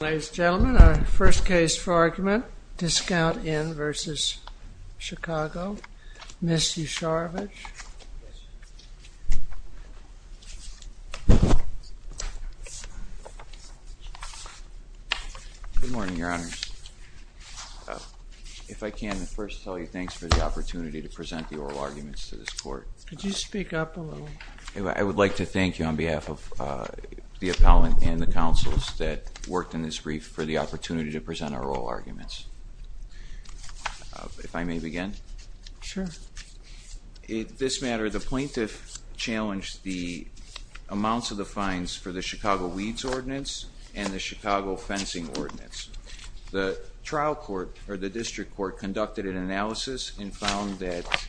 Ladies and gentlemen, our first case for argument, Discount Inn v. Chicago, Ms. Yasharovitch. Good morning, Your Honors. If I can, first tell you thanks for the opportunity to present the oral arguments to this court. Could you speak up a little? I would like to thank you on behalf of the appellant and the counsels that worked in this brief for the opportunity to present our oral arguments. If I may begin? Sure. In this matter, the plaintiff challenged the amounts of the fines for the Chicago weeds ordinance and the Chicago fencing ordinance. The trial court, or the district court, conducted an analysis and found that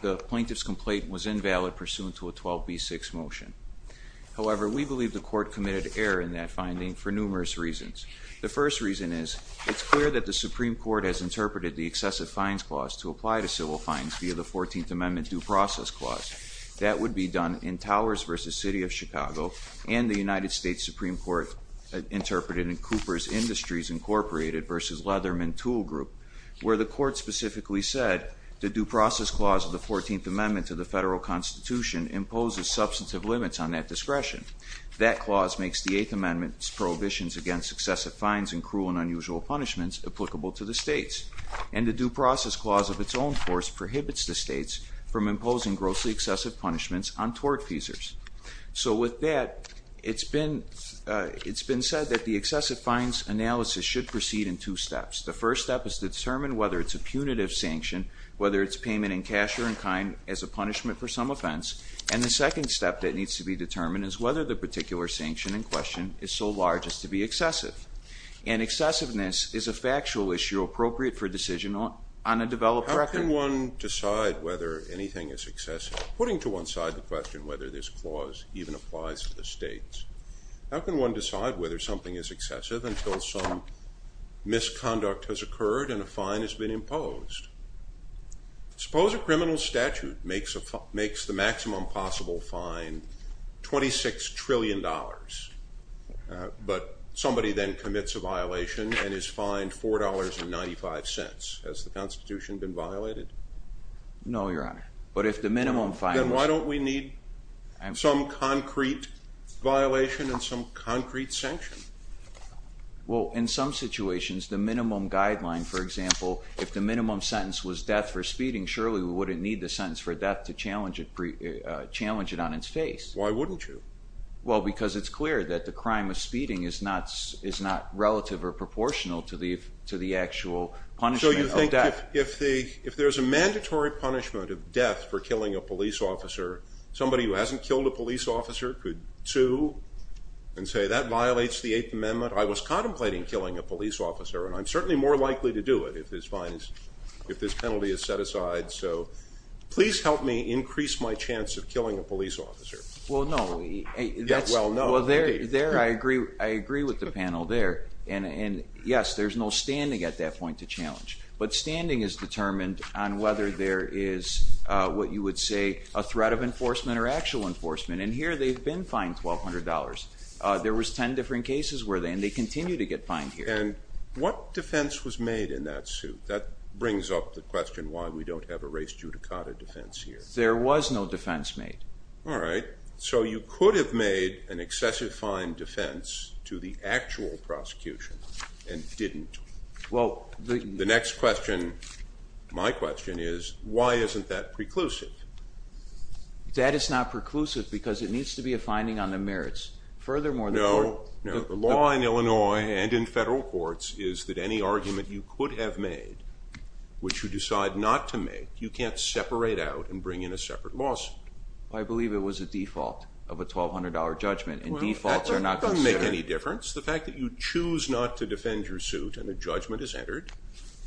the plaintiff's complaint was invalid pursuant to a 12B6 motion. However, we believe the court committed error in that finding for numerous reasons. The first reason is, it's clear that the Supreme Court has interpreted the excessive fines clause to apply to civil fines via the 14th Amendment due process clause. That would be done in Towers v. City of Chicago and the United States Supreme Court interpreted in Coopers Industries, Inc. v. Leatherman Tool Group, where the court specifically said the due process clause of the 14th Amendment to the federal Constitution imposes substantive limits on that discretion. That clause makes the 8th Amendment's prohibitions against excessive fines and cruel and unusual punishments applicable to the states. And the due process clause of its own force prohibits the states from imposing grossly excessive punishments on tort feasers. So with that, it's been said that the excessive fines analysis should proceed in two steps. The first step is to determine whether it's a punitive sanction, whether it's payment in cash or in kind as a punishment for some offense. And the second step that needs to be determined is whether the particular sanction in question is so large as to be excessive. And excessiveness is a factual issue appropriate for decision on a developed record. How can one decide whether anything is excessive? Putting to one side the question whether this clause even applies to the states, how can one decide whether something is excessive until some misconduct has occurred and a fine has been imposed? Suppose a criminal statute makes the maximum possible fine $26 trillion, but somebody then commits a violation and is fined $4.95. Has the Constitution been violated? No, Your Honor. But if the minimum fine was... Then why don't we need some concrete violation and some concrete sanction? Well, in some situations, the minimum guideline, for example, if the minimum sentence was death for speeding, surely we wouldn't need the sentence for death to challenge it on its face. Why wouldn't you? Well, because it's clear that the crime of speeding is not relative or proportional to the actual punishment of death. So you think if there's a mandatory punishment of death for killing a police officer, somebody who hasn't killed a police officer could sue and say, that violates the Eighth Amendment. I was contemplating killing a police officer, and I'm certainly more likely to do it if this penalty is set aside. So please help me increase my chance of killing a police officer. Well, no. Well, no. Well, there I agree with the panel there. And yes, there's no standing at that point to challenge. But standing is determined on whether there is what you would say a threat of enforcement or actual enforcement. And here they've been fined $1,200. There was 10 different cases where they, and they continue to get fined here. And what defense was made in that suit? That brings up the question why we don't have a race judicata defense here. There was no defense made. All right. So you could have made an excessive fine defense to the actual prosecution and didn't. The next question, my question, is why isn't that preclusive? That is not preclusive because it needs to be a finding on the merits. Furthermore, the court. No, no. The law in Illinois and in federal courts is that any argument you could have made, which you decide not to make, you can't separate out and bring in a separate lawsuit. I believe it was a default of a $1,200 judgment, and defaults are not considered. It doesn't make any difference. The fact that you choose not to defend your suit and a judgment is entered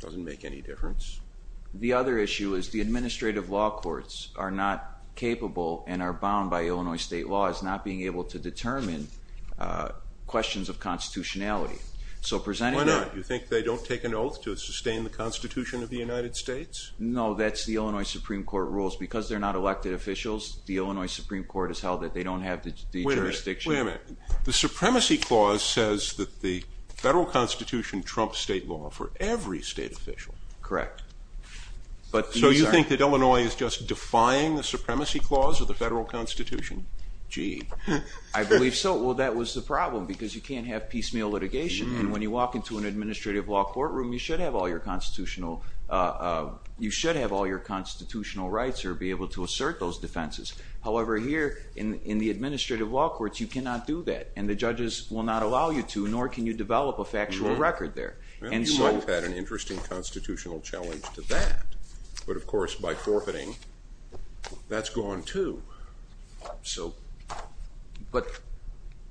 doesn't make any difference. The other issue is the administrative law courts are not capable and are bound by Illinois state law as not being able to determine questions of constitutionality. Why not? Do you think they don't take an oath to sustain the Constitution of the United States? No, that's the Illinois Supreme Court rules. Because they're not elected officials, the Illinois Supreme Court has held that they don't have the jurisdiction. Wait a minute. The Supremacy Clause says that the federal Constitution trumps state law for every state official. Correct. So you think that Illinois is just defying the Supremacy Clause or the federal Constitution? Gee, I believe so. Well, that was the problem because you can't have piecemeal litigation, and when you walk into an administrative law courtroom, you should have all your constitutional rights or be able to assert those defenses. However, here in the administrative law courts, you cannot do that, and the judges will not allow you to, nor can you develop a factual record there. Well, you might have had an interesting constitutional challenge to that. But, of course, by forfeiting, that's gone too. But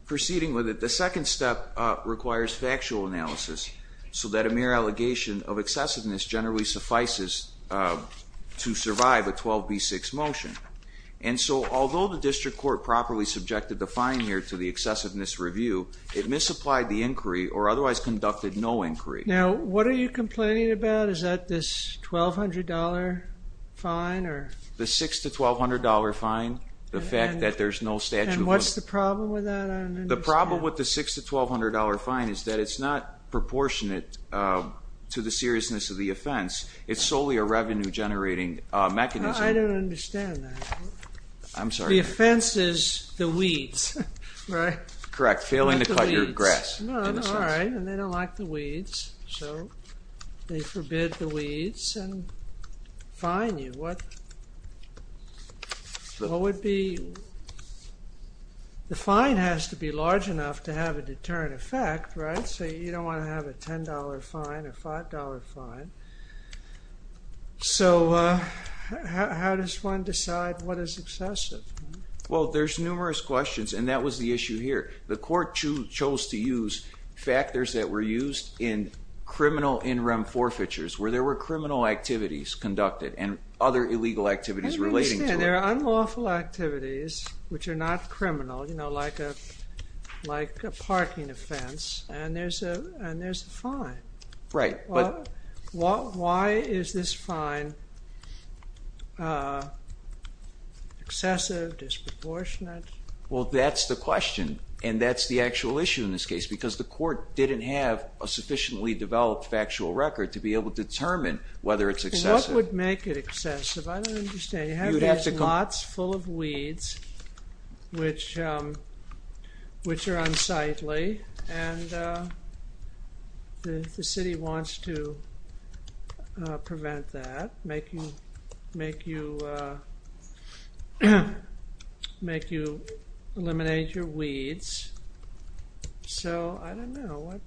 proceeding with it, the second step requires factual analysis so that a mere allegation of excessiveness generally suffices to survive a 12b6 motion. And so although the district court properly subjected the fine here to the excessiveness review, it misapplied the inquiry or otherwise conducted no inquiry. Now, what are you complaining about? Is that this $1,200 fine? The $6,000 to $1,200 fine, the fact that there's no statute. And what's the problem with that? The problem with the $6,000 to $1,200 fine is that it's not proportionate to the seriousness of the offense. It's solely a revenue-generating mechanism. I don't understand that. I'm sorry. The offense is the weeds, right? Correct. Failing to cut your grass. All right. And they don't like the weeds, so they forbid the weeds and fine you. What would be? The fine has to be large enough to have a deterrent effect, right? So you don't want to have a $10 fine, a $5 fine. So how does one decide what is excessive? Well, there's numerous questions, and that was the issue here. The court chose to use factors that were used in criminal in rem forfeitures, where there were criminal activities conducted and other illegal activities relating to it. I don't understand. There are unlawful activities which are not criminal, you know, like a parking offense, and there's a fine. Right. Why is this fine excessive, disproportionate? Well, that's the question, and that's the actual issue in this case, because the court didn't have a sufficiently developed factual record to be able to determine whether it's excessive. What would make it excessive? I don't understand. You have these lots full of weeds, which are unsightly, and the city wants to prevent that, make you eliminate your weeds. So I don't know.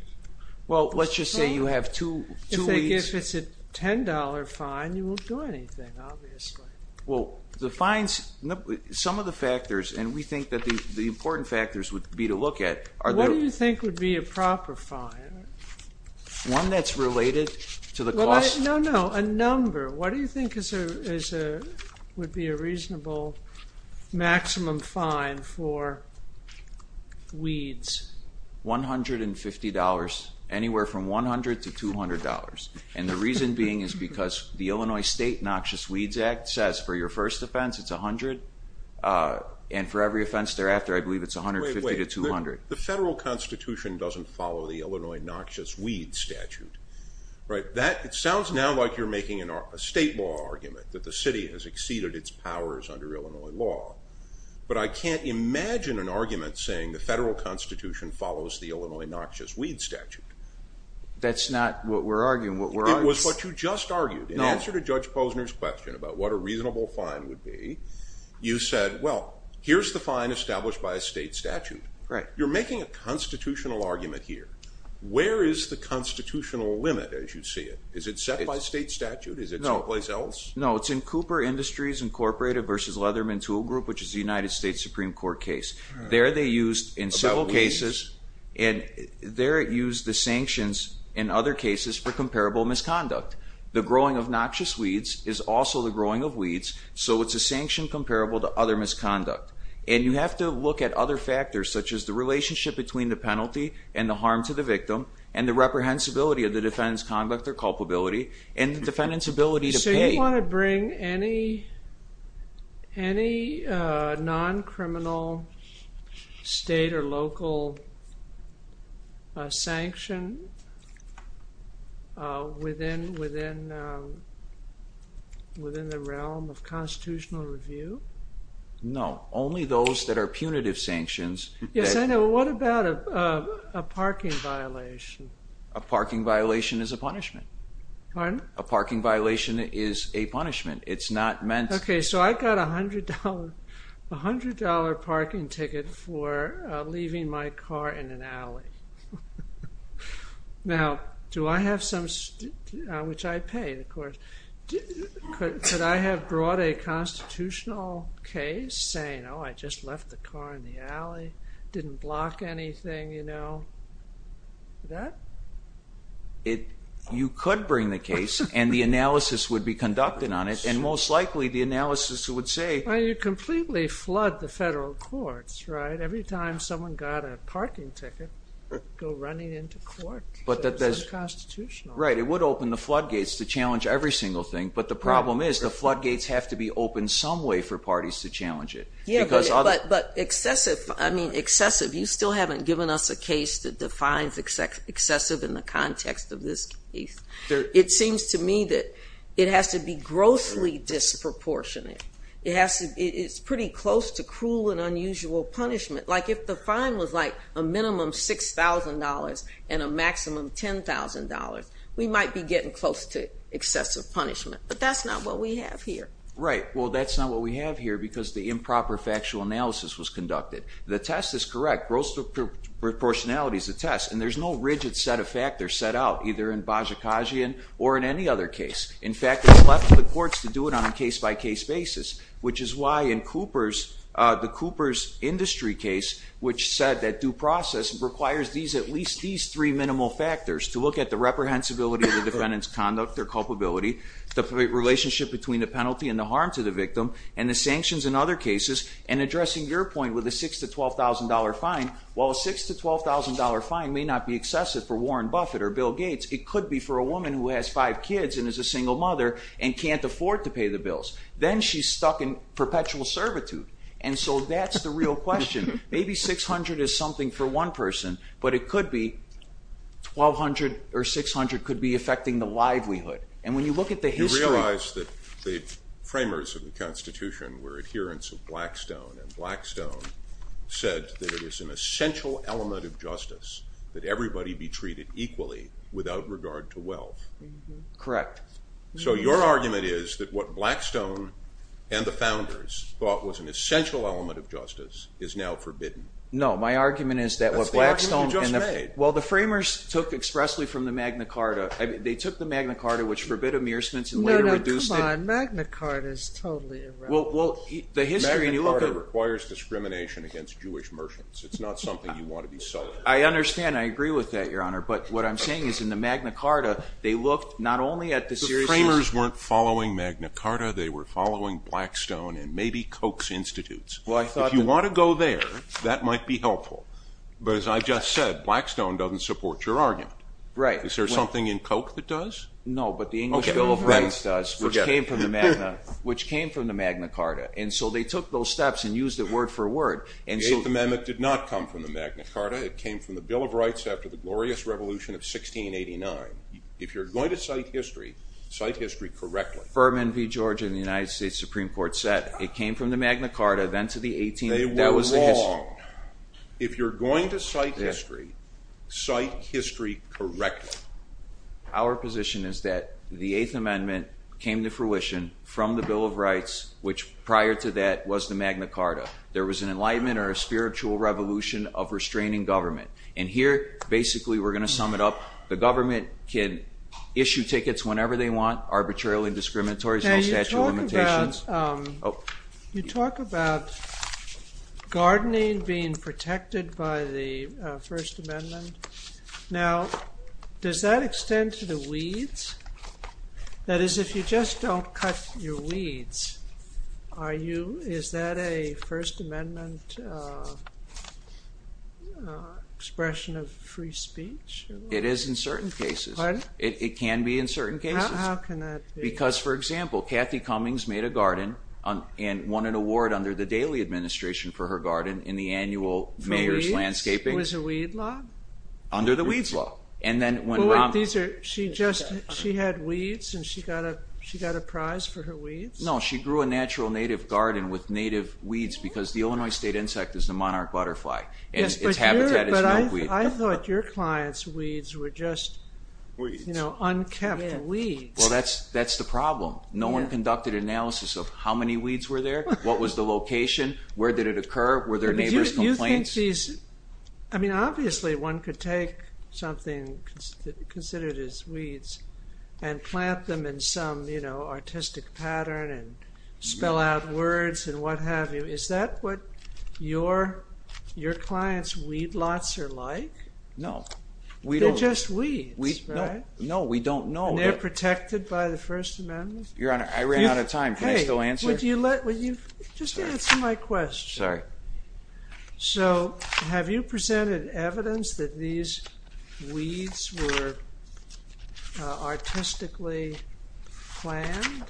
Well, let's just say you have two weeds. If it's a $10 fine, you won't do anything, obviously. Well, the fines, some of the factors, and we think that the important factors would be to look at. What do you think would be a proper fine? One that's related to the cost? No, no, a number. What do you think would be a reasonable maximum fine for weeds? $150, anywhere from $100 to $200. And the reason being is because the Illinois State Noxious Weeds Act says for your first offense, it's $100, and for every offense thereafter, I believe it's $150 to $200. The federal constitution doesn't follow the Illinois Noxious Weeds Statute. It sounds now like you're making a state law argument that the city has exceeded its powers under Illinois law, but I can't imagine an argument saying the federal constitution follows the Illinois Noxious Weeds Statute. That's not what we're arguing. It was what you just argued. In answer to Judge Posner's question about what a reasonable fine would be, you said, well, here's the fine established by a state statute. You're making a constitutional argument here. Where is the constitutional limit as you see it? Is it set by state statute? Is it someplace else? No, it's in Cooper Industries Incorporated v. Leatherman Tool Group, which is a United States Supreme Court case. There they used in several cases, and there it used the sanctions in other cases for comparable misconduct. The growing of noxious weeds is also the growing of weeds, so it's a sanction comparable to other misconduct. And you have to look at other factors, such as the relationship between the penalty and the harm to the victim and the reprehensibility of the defendant's conduct or culpability and the defendant's ability to pay. So you want to bring any non-criminal state or local sanction within the realm of constitutional review? No. Only those that are punitive sanctions. Yes, I know. What about a parking violation? A parking violation is a punishment. Pardon? A parking violation is a punishment. It's not meant— Okay, so I got a $100 parking ticket for leaving my car in an alley. Now, do I have some—which I paid, of course. Could I have brought a constitutional case saying, oh, I just left the car in the alley, didn't block anything, you know? You could bring the case, and the analysis would be conducted on it, and most likely the analysis would say— Well, you completely flood the federal courts, right? Every time someone got a parking ticket, go running into court. It's unconstitutional. Right, it would open the floodgates to challenge every single thing, but the problem is the floodgates have to be opened some way for parties to challenge it. Yeah, but excessive—I mean, excessive. You still haven't given us a case that defines excessive in the context of this case. It seems to me that it has to be grossly disproportionate. It's pretty close to cruel and unusual punishment. Like, if the fine was, like, a minimum $6,000 and a maximum $10,000, we might be getting close to excessive punishment, but that's not what we have here. Right. Well, that's not what we have here because the improper factual analysis was conducted. The test is correct. Gross disproportionality is a test, and there's no rigid set of factors set out, either in Bajikasian or in any other case. In fact, it's left to the courts to do it on a case-by-case basis, which is why in Cooper's—the Cooper's industry case, which said that due process requires at least these three minimal factors to look at the reprehensibility of the defendant's conduct or culpability, the relationship between the penalty and the harm to the victim, and the sanctions in other cases, and addressing your point with a $6,000 to $12,000 fine. While a $6,000 to $12,000 fine may not be excessive for Warren Buffett or Bill Gates, it could be for a woman who has five kids and is a single mother and can't afford to pay the bills. Then she's stuck in perpetual servitude, and so that's the real question. Maybe $600 is something for one person, but it could be $1,200 or $600 could be affecting the livelihood. And when you look at the history— You realize that the framers of the Constitution were adherents of Blackstone, and Blackstone said that it is an essential element of justice that everybody be treated equally without regard to wealth. Correct. So your argument is that what Blackstone and the founders thought was an essential element of justice is now forbidden. No, my argument is that what Blackstone— That's the argument you just made. Well, the framers took expressly from the Magna Carta. They took the Magna Carta, which forbid amearsments and later reduced it. No, no, come on. Magna Carta is totally irrelevant. Magna Carta requires discrimination against Jewish merchants. It's not something you want to be selling. I understand. I agree with that, Your Honor. But what I'm saying is in the Magna Carta, they looked not only at the seriousness— The framers weren't following Magna Carta. They were following Blackstone and maybe Koch's institutes. If you want to go there, that might be helpful. But as I just said, Blackstone doesn't support your argument. Right. Is there something in Koch that does? No, but the English Bill of Rights does, which came from the Magna Carta. And so they took those steps and used it word for word. The Eighth Amendment did not come from the Magna Carta. It came from the Bill of Rights after the glorious revolution of 1689. If you're going to cite history, cite history correctly. Ferman v. Georgia in the United States Supreme Court said it came from the Magna Carta, then to the 18th— They were wrong. If you're going to cite history, cite history correctly. Our position is that the Eighth Amendment came to fruition from the Bill of Rights, which prior to that was the Magna Carta. There was an enlightenment or a spiritual revolution of restraining government. And here, basically, we're going to sum it up. The government can issue tickets whenever they want, arbitrarily discriminatory, no statute of limitations. You talk about gardening being protected by the First Amendment. Now, does that extend to the weeds? That is, if you just don't cut your weeds, are you— is that a First Amendment expression of free speech? It is in certain cases. Pardon? It can be in certain cases. How can that be? Because, for example, Kathy Cummings made a garden and won an award under the Daley administration for her garden in the annual Mayor's Landscaping— It was a weed law? Under the weeds law. And then when— Wait, these are—she just—she had weeds, and she got a prize for her weeds? No, she grew a natural native garden with native weeds because the Illinois state insect is the monarch butterfly, and its habitat is no weed. But I thought your client's weeds were just unkept weeds. Well, that's the problem. No one conducted analysis of how many weeds were there, what was the location, where did it occur, were there neighbors' complaints? I mean, obviously one could take something considered as weeds and plant them in some, you know, artistic pattern and spell out words and what have you. Is that what your client's weed lots are like? No. They're just weeds, right? No, we don't know. They're protected by the First Amendment? Your Honor, I ran out of time. Can I still answer? Hey, would you let—just answer my question. Sorry. So have you presented evidence that these weeds were artistically planned?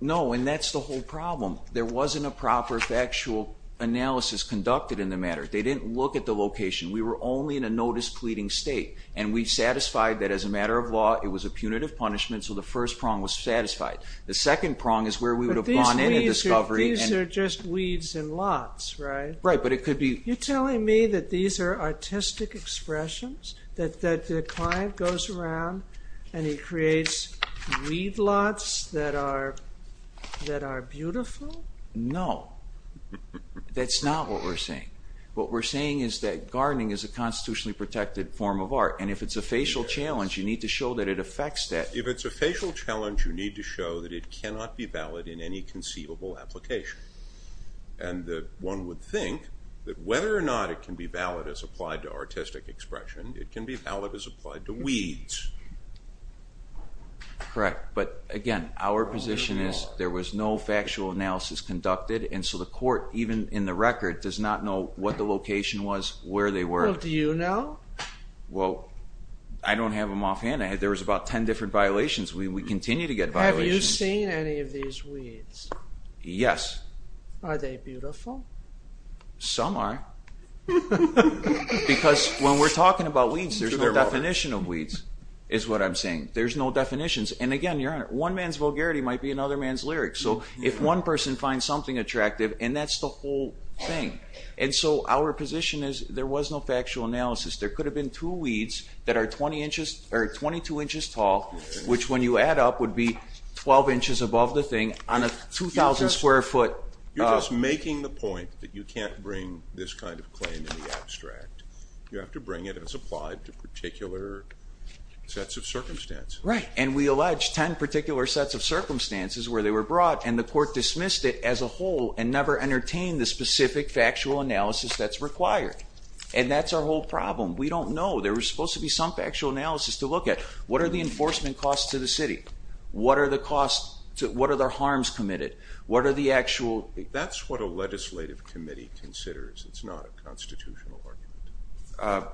No, and that's the whole problem. There wasn't a proper factual analysis conducted in the matter. They didn't look at the location. We were only in a notice-pleading state, and we satisfied that as a matter of law, it was a punitive punishment, so the first prong was satisfied. The second prong is where we would have gone into discovery— They're just weeds in lots, right? Right, but it could be— You're telling me that these are artistic expressions, that the client goes around and he creates weed lots that are beautiful? No. That's not what we're saying. What we're saying is that gardening is a constitutionally protected form of art, and if it's a facial challenge, you need to show that it affects that. If it's a facial challenge, you need to show that it cannot be valid in any conceivable application, and that one would think that whether or not it can be valid as applied to artistic expression, it can be valid as applied to weeds. Correct, but again, our position is there was no factual analysis conducted, and so the court, even in the record, does not know what the location was, where they were. Well, do you know? Well, I don't have them offhand. There was about 10 different violations. We continue to get violations. Have you seen any of these weeds? Yes. Are they beautiful? Some are. Because when we're talking about weeds, there's no definition of weeds, is what I'm saying. There's no definitions, and again, Your Honor, one man's vulgarity might be another man's lyric. So if one person finds something attractive, and that's the whole thing. And so our position is there was no factual analysis. There could have been two weeds that are 22 inches tall, which when you add up would be 12 inches above the thing, on a 2,000 square foot. You're just making the point that you can't bring this kind of claim in the abstract. You have to bring it as applied to particular sets of circumstances. Right. And we allege 10 particular sets of circumstances where they were brought, and the court dismissed it as a whole and never entertained the specific factual analysis that's required. And that's our whole problem. We don't know. There was supposed to be some factual analysis to look at. What are the enforcement costs to the city? What are their harms committed? What are the actual? That's what a legislative committee considers. It's not a constitutional argument.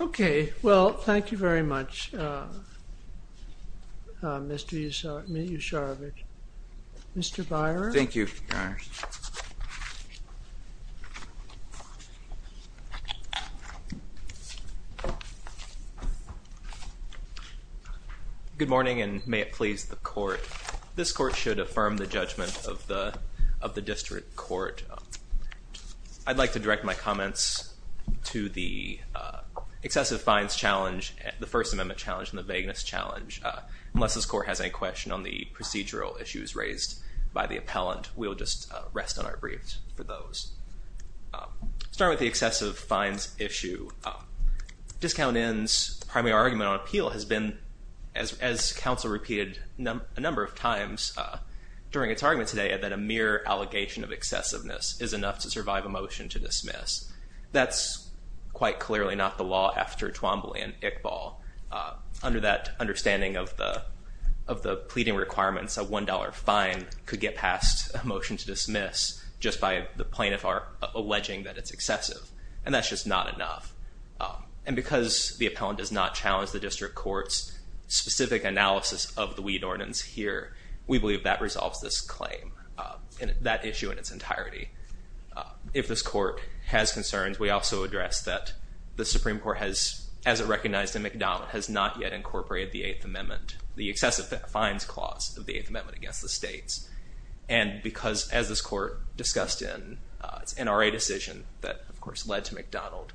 OK. Well, thank you very much, Mr. Usharovich. Mr. Byer? Thank you, Your Honor. Good morning, and may it please the court. This court should affirm the judgment of the district court. I'd like to direct my comments to the excessive fines challenge, the First Amendment challenge, and the vagueness challenge. Unless this court has any question on the procedural issues raised by the appellant, we'll just rest on our briefs for those. Starting with the excessive fines issue, Discount Inn's primary argument on appeal has been, as counsel repeated a number of times during its argument today, that a mere allegation of excessiveness is enough to survive a motion to dismiss. That's quite clearly not the law after Twombly and Iqbal. Under that understanding of the pleading requirements, a $1 fine could get past a motion to dismiss just by the plaintiff alleging that it's excessive. And that's just not enough. And because the appellant does not challenge the district court's specific analysis of the weed ordinance here, we believe that resolves this claim and that issue in its entirety. If this court has concerns, we also address that the Supreme Court has, as it recognized in McDonnell, has not yet incorporated the Eighth Amendment, the excessive fines clause of the Eighth Amendment against the states. And because, as this court discussed in its NRA decision, that, of course, led to McDonnell,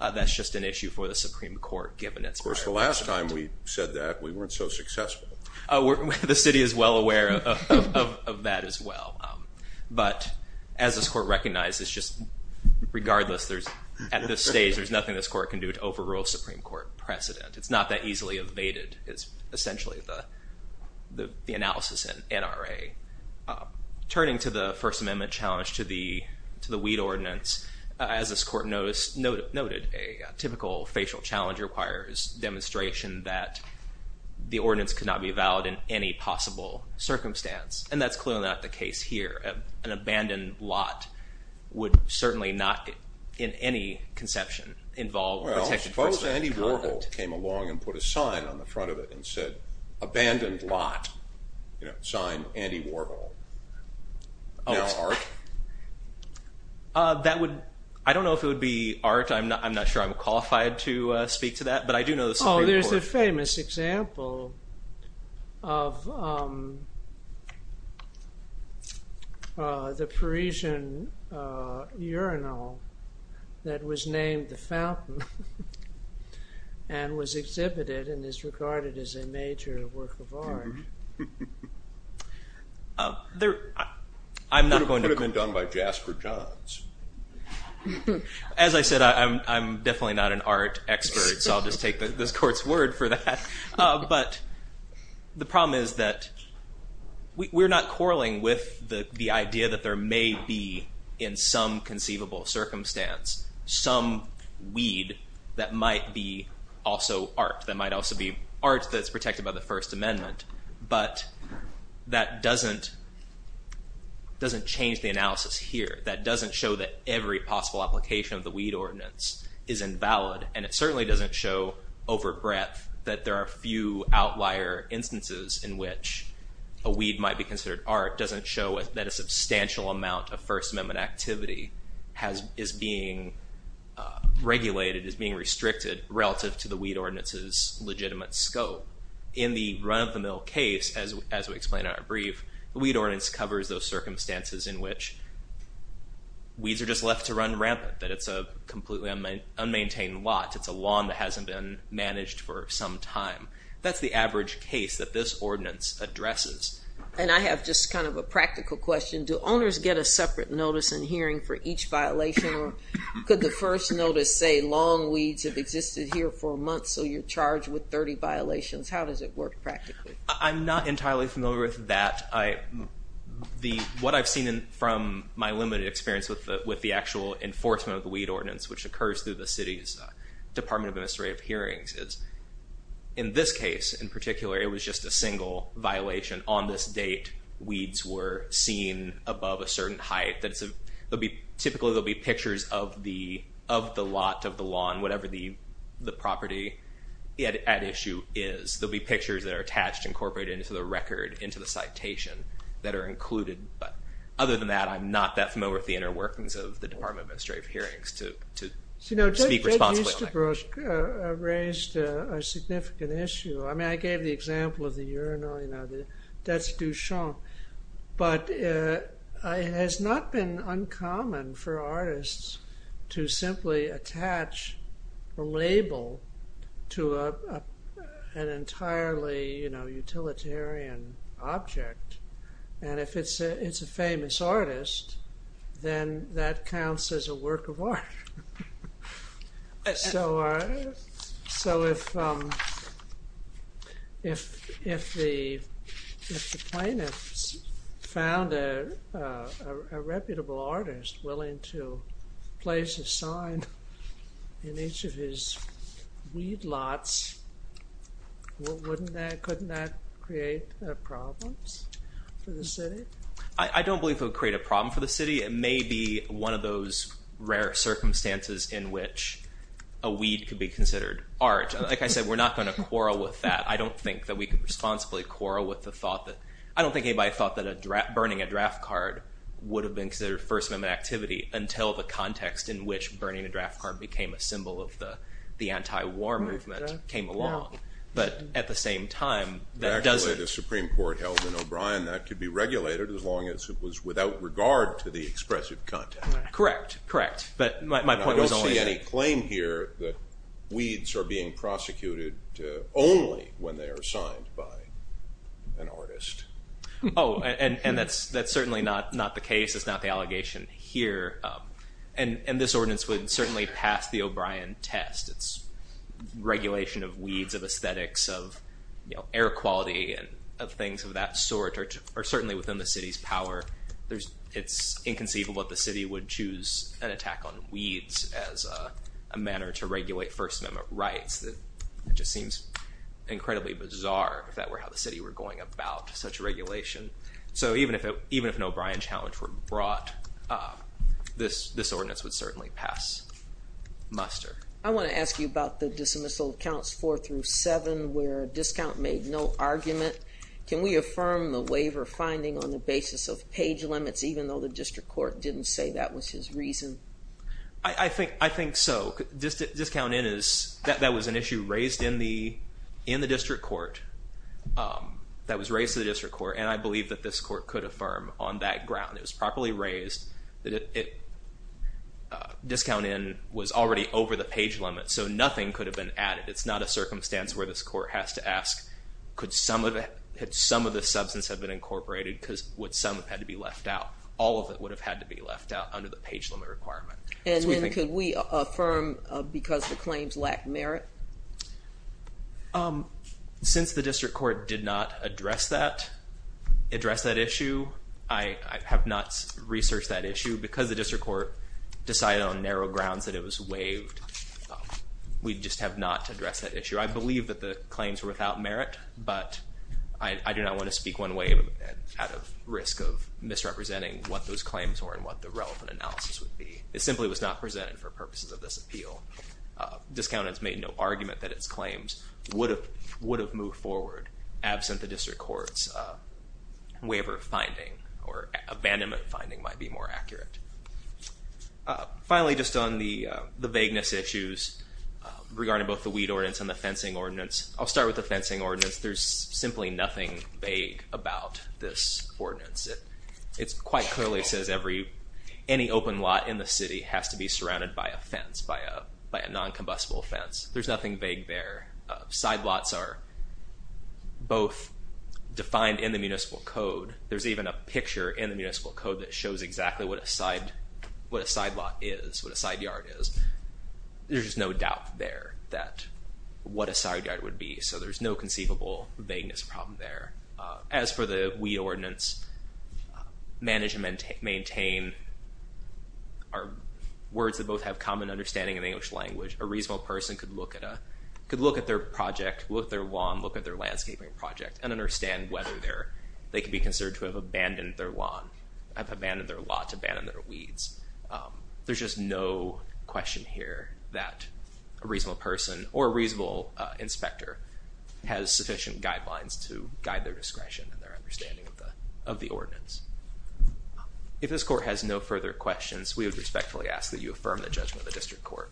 that's just an issue for the Supreme Court, given its prior experience. Of course, the last time we said that, we weren't so successful. The city is well aware of that as well. But as this court recognizes, just regardless, at this stage, there's nothing this court can do to overrule a Supreme Court precedent. It's not that easily evaded is essentially the analysis in NRA. Turning to the First Amendment challenge to the weed ordinance, as this court noted, a typical facial challenge requires demonstration that the ordinance could not be valid in any possible circumstance. And that's clearly not the case here. An abandoned lot would certainly not, in any conception, involve protection. Well, suppose Andy Warhol came along and put a sign on the front of it and said, abandoned lot, signed Andy Warhol. Now art? I don't know if it would be art. I'm not sure I'm qualified to speak to that. But I do know the Supreme Court. Oh, there's a famous example of the Parisian urinal that was named The Fountain and was exhibited and is regarded as a major work of art. It could have been done by Jasper Johns. As I said, I'm definitely not an art expert, so I'll just take this court's word for that. But the problem is that we're not quarreling with the idea that there may be, in some conceivable circumstance, some weed that might be also art, that might also be art that's protected by the First Amendment. But that doesn't change the analysis here. That doesn't show that every possible application of the weed ordinance is invalid. And it certainly doesn't show over breadth that there are few outlier instances in which a weed might be considered art doesn't show that a First Amendment activity is being regulated, is being restricted relative to the weed ordinance's legitimate scope. In the run-of-the-mill case, as we explained in our brief, the weed ordinance covers those circumstances in which weeds are just left to run rampant, that it's a completely unmaintained lot, it's a lawn that hasn't been managed for some time. That's the average case that this ordinance addresses. And I have just kind of a practical question. Do owners get a separate notice and hearing for each violation, or could the first notice say lawn weeds have existed here for a month, so you're charged with 30 violations? How does it work practically? I'm not entirely familiar with that. What I've seen from my limited experience with the actual enforcement of the weed ordinance, which occurs through the city's Department of Administrative Hearings, is in this case, in particular, it was just a single violation. On this date, weeds were seen above a certain height. Typically, there'll be pictures of the lot, of the lawn, whatever the property at issue is. There'll be pictures that are attached, incorporated into the record, into the citation that are included. But other than that, I'm not that familiar with the inner workings of the Department of Administrative Hearings to speak responsibly on that. Jay Easterbrook raised a significant issue. I gave the example of the urinal, that's Duchamp. But it has not been uncommon for artists to simply attach a label to an entirely utilitarian object. And if it's a famous artist, then that counts as a work of art. So if the plaintiffs found a reputable artist willing to place a sign in each of his weed lots, couldn't that create problems for the city? I don't believe it would create a problem for the city. It may be one of those rare circumstances in which a weed could be considered art. Like I said, we're not going to quarrel with that. I don't think that we could responsibly quarrel with the thought that – I don't think anybody thought that burning a draft card would have been considered First Amendment activity until the context in which burning a draft card became a symbol of the anti-war movement came along. But at the same time, that doesn't – Actually, the Supreme Court held in O'Brien that could be regulated as long as it was without regard to the expressive content. Correct, correct. But my point was only – I don't see any claim here that weeds are being prosecuted only when they are signed by an artist. Oh, and that's certainly not the case. It's not the allegation here. And this ordinance would certainly pass the O'Brien test. It's regulation of weeds, of aesthetics, of air quality, of things of that sort are certainly within the city's power. It's inconceivable that the city would choose an attack on weeds as a manner to regulate First Amendment rights. It just seems incredibly bizarre if that were how the city were going about such regulation. So even if an O'Brien challenge were brought, this ordinance would certainly pass muster. I want to ask you about the dismissal of counts 4 through 7, where a discount made no argument. Can we affirm the waiver finding on the basis of page limits, even though the district court didn't say that was his reason? I think so. Discount in is – that was an issue raised in the district court, that was raised to the district court, and I believe that this court could affirm on that ground. It was properly raised. Discount in was already over the page limit, so nothing could have been added. It's not a circumstance where this court has to ask, could some of the – had some of the substance had been incorporated, would some have had to be left out? All of it would have had to be left out under the page limit requirement. And then could we affirm because the claims lack merit? Since the district court did not address that issue, I have not researched that issue. Because the district court decided on narrow grounds that it was waived, we just have not addressed that issue. I believe that the claims were without merit, but I do not want to speak one way out of risk of misrepresenting what those claims were and what the relevant analysis would be. It simply was not presented for purposes of this appeal. Discount in has made no argument that its claims would have moved forward absent the district court's waiver finding or abandonment finding might be more accurate. Finally, just on the vagueness issues regarding both the weed ordinance and the fencing ordinance, I'll start with the fencing ordinance. There's simply nothing vague about this ordinance. It quite clearly says any open lot in the city has to be surrounded by a fence, by a noncombustible fence. There's nothing vague there. Side lots are both defined in the municipal code. There's even a picture in the municipal code that shows exactly what a side lot is, what a side yard is. There's just no doubt there that what a side yard would be, so there's no conceivable vagueness problem there. As for the weed ordinance, manage and maintain are words that both have common understanding in the English language. A reasonable person could look at their project, look at their law, and look at their landscaping project and understand whether they could be considered to have abandoned their lawn, have abandoned their lot, abandoned their weeds. There's just no question here that a reasonable person or a reasonable inspector has sufficient guidelines to guide their discretion and their understanding of the ordinance. If this court has no further questions, we would respectfully ask that you affirm the judgment of the district court.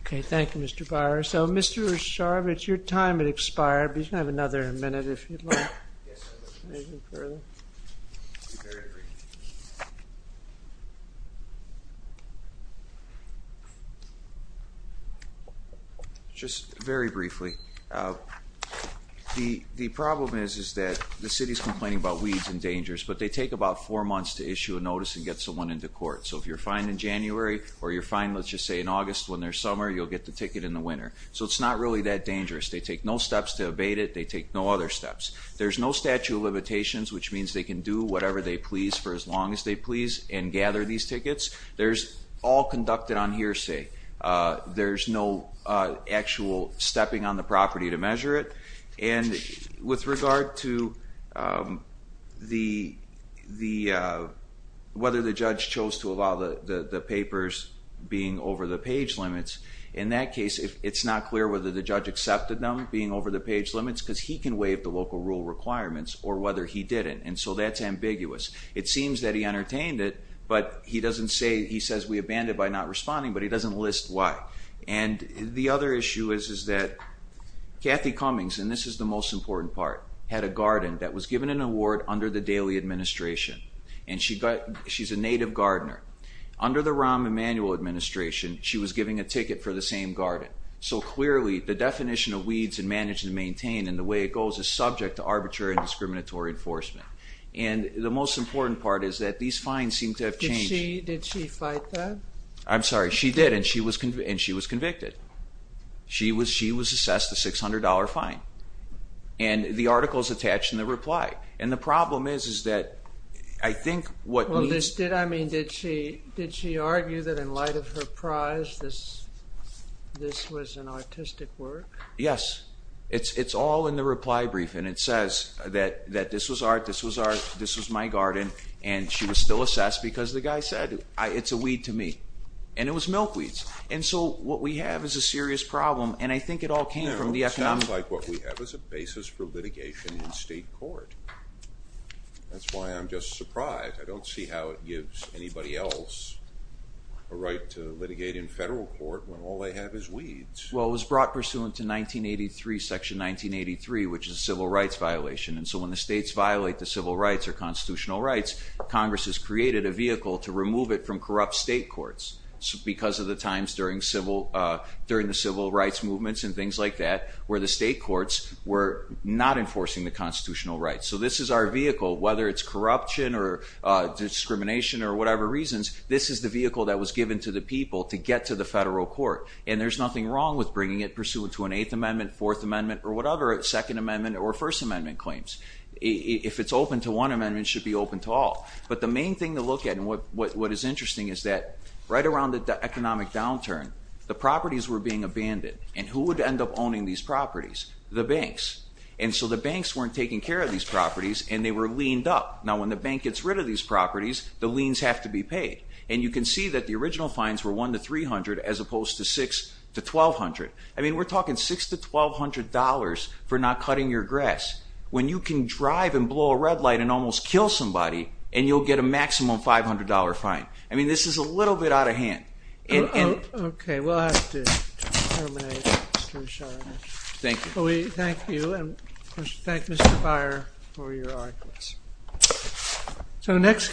Okay, thank you, Mr. Byer. Thank you, Mr. Byer. So, Mr. Roshar, your time has expired, but you can have another minute if you'd like. Yes, I would. Anything further? Very briefly. Just very briefly. The problem is that the city's complaining about weeds and dangers, but they take about four months to issue a notice and get someone into court. So if you're fined in January or you're fined, let's just say, in August when there's summer, you'll get the ticket in the winter. So it's not really that dangerous. They take no steps to abate it. They take no other steps. There's no statute of limitations, which means they can do whatever they please for as long as they please and gather these tickets. They're all conducted on hearsay. There's no actual stepping on the property to measure it. And with regard to whether the judge chose to allow the papers being over the page limits, in that case it's not clear whether the judge accepted them being over the page limits because he can waive the local rule requirements or whether he didn't. And so that's ambiguous. It seems that he entertained it, but he says we abandoned it by not responding, but he doesn't list why. And the other issue is that Kathy Cummings, and this is the most important part, had a garden that was given an award under the Daley administration, and she's a native gardener. Under the Rahm Emanuel administration, she was giving a ticket for the same garden. So clearly the definition of weeds and managing to maintain and the way it goes is subject to arbitrary and discriminatory enforcement. And the most important part is that these fines seem to have changed. Did she fight that? I'm sorry. She did, and she was convicted. She was assessed a $600 fine. And the article is attached in the reply. And the problem is that I think what we need to... I mean, did she argue that in light of her prize this was an artistic work? Yes. It's all in the reply brief, and it says that this was art, this was art, this was my garden, and she was still assessed because the guy said, it's a weed to me. And it was milkweeds. And so what we have is a serious problem, and I think it all came from the economic... It sounds like what we have is a basis for litigation in state court. That's why I'm just surprised. I don't see how it gives anybody else a right to litigate in federal court when all they have is weeds. Well, it was brought pursuant to 1983, Section 1983, which is a civil rights violation. And so when the states violate the civil rights or constitutional rights, Congress has created a vehicle to remove it from corrupt state courts because of the times during the civil rights movements and things like that where the state courts were not enforcing the constitutional rights. So this is our vehicle, whether it's corruption or discrimination or whatever reasons, this is the vehicle that was given to the people to get to the federal court, and there's nothing wrong with bringing it pursuant to an Eighth Amendment, Fourth Amendment, or whatever Second Amendment or First Amendment claims. If it's open to one amendment, it should be open to all. But the main thing to look at, and what is interesting, is that right around the economic downturn, the properties were being abandoned, and who would end up owning these properties? The banks. And so the banks weren't taking care of these properties, and they were leaned up. Now when the bank gets rid of these properties, the liens have to be paid. And you can see that the original fines were $100 to $300 as opposed to $600 to $1,200. I mean, we're talking $600 to $1,200 for not cutting your grass when you can drive and blow a red light and almost kill somebody, and you'll get a maximum $500 fine. I mean, this is a little bit out of hand. Okay, we'll have to terminate. Thank you. Well, we thank you, and we thank Mr. Byer for your arguments. So the next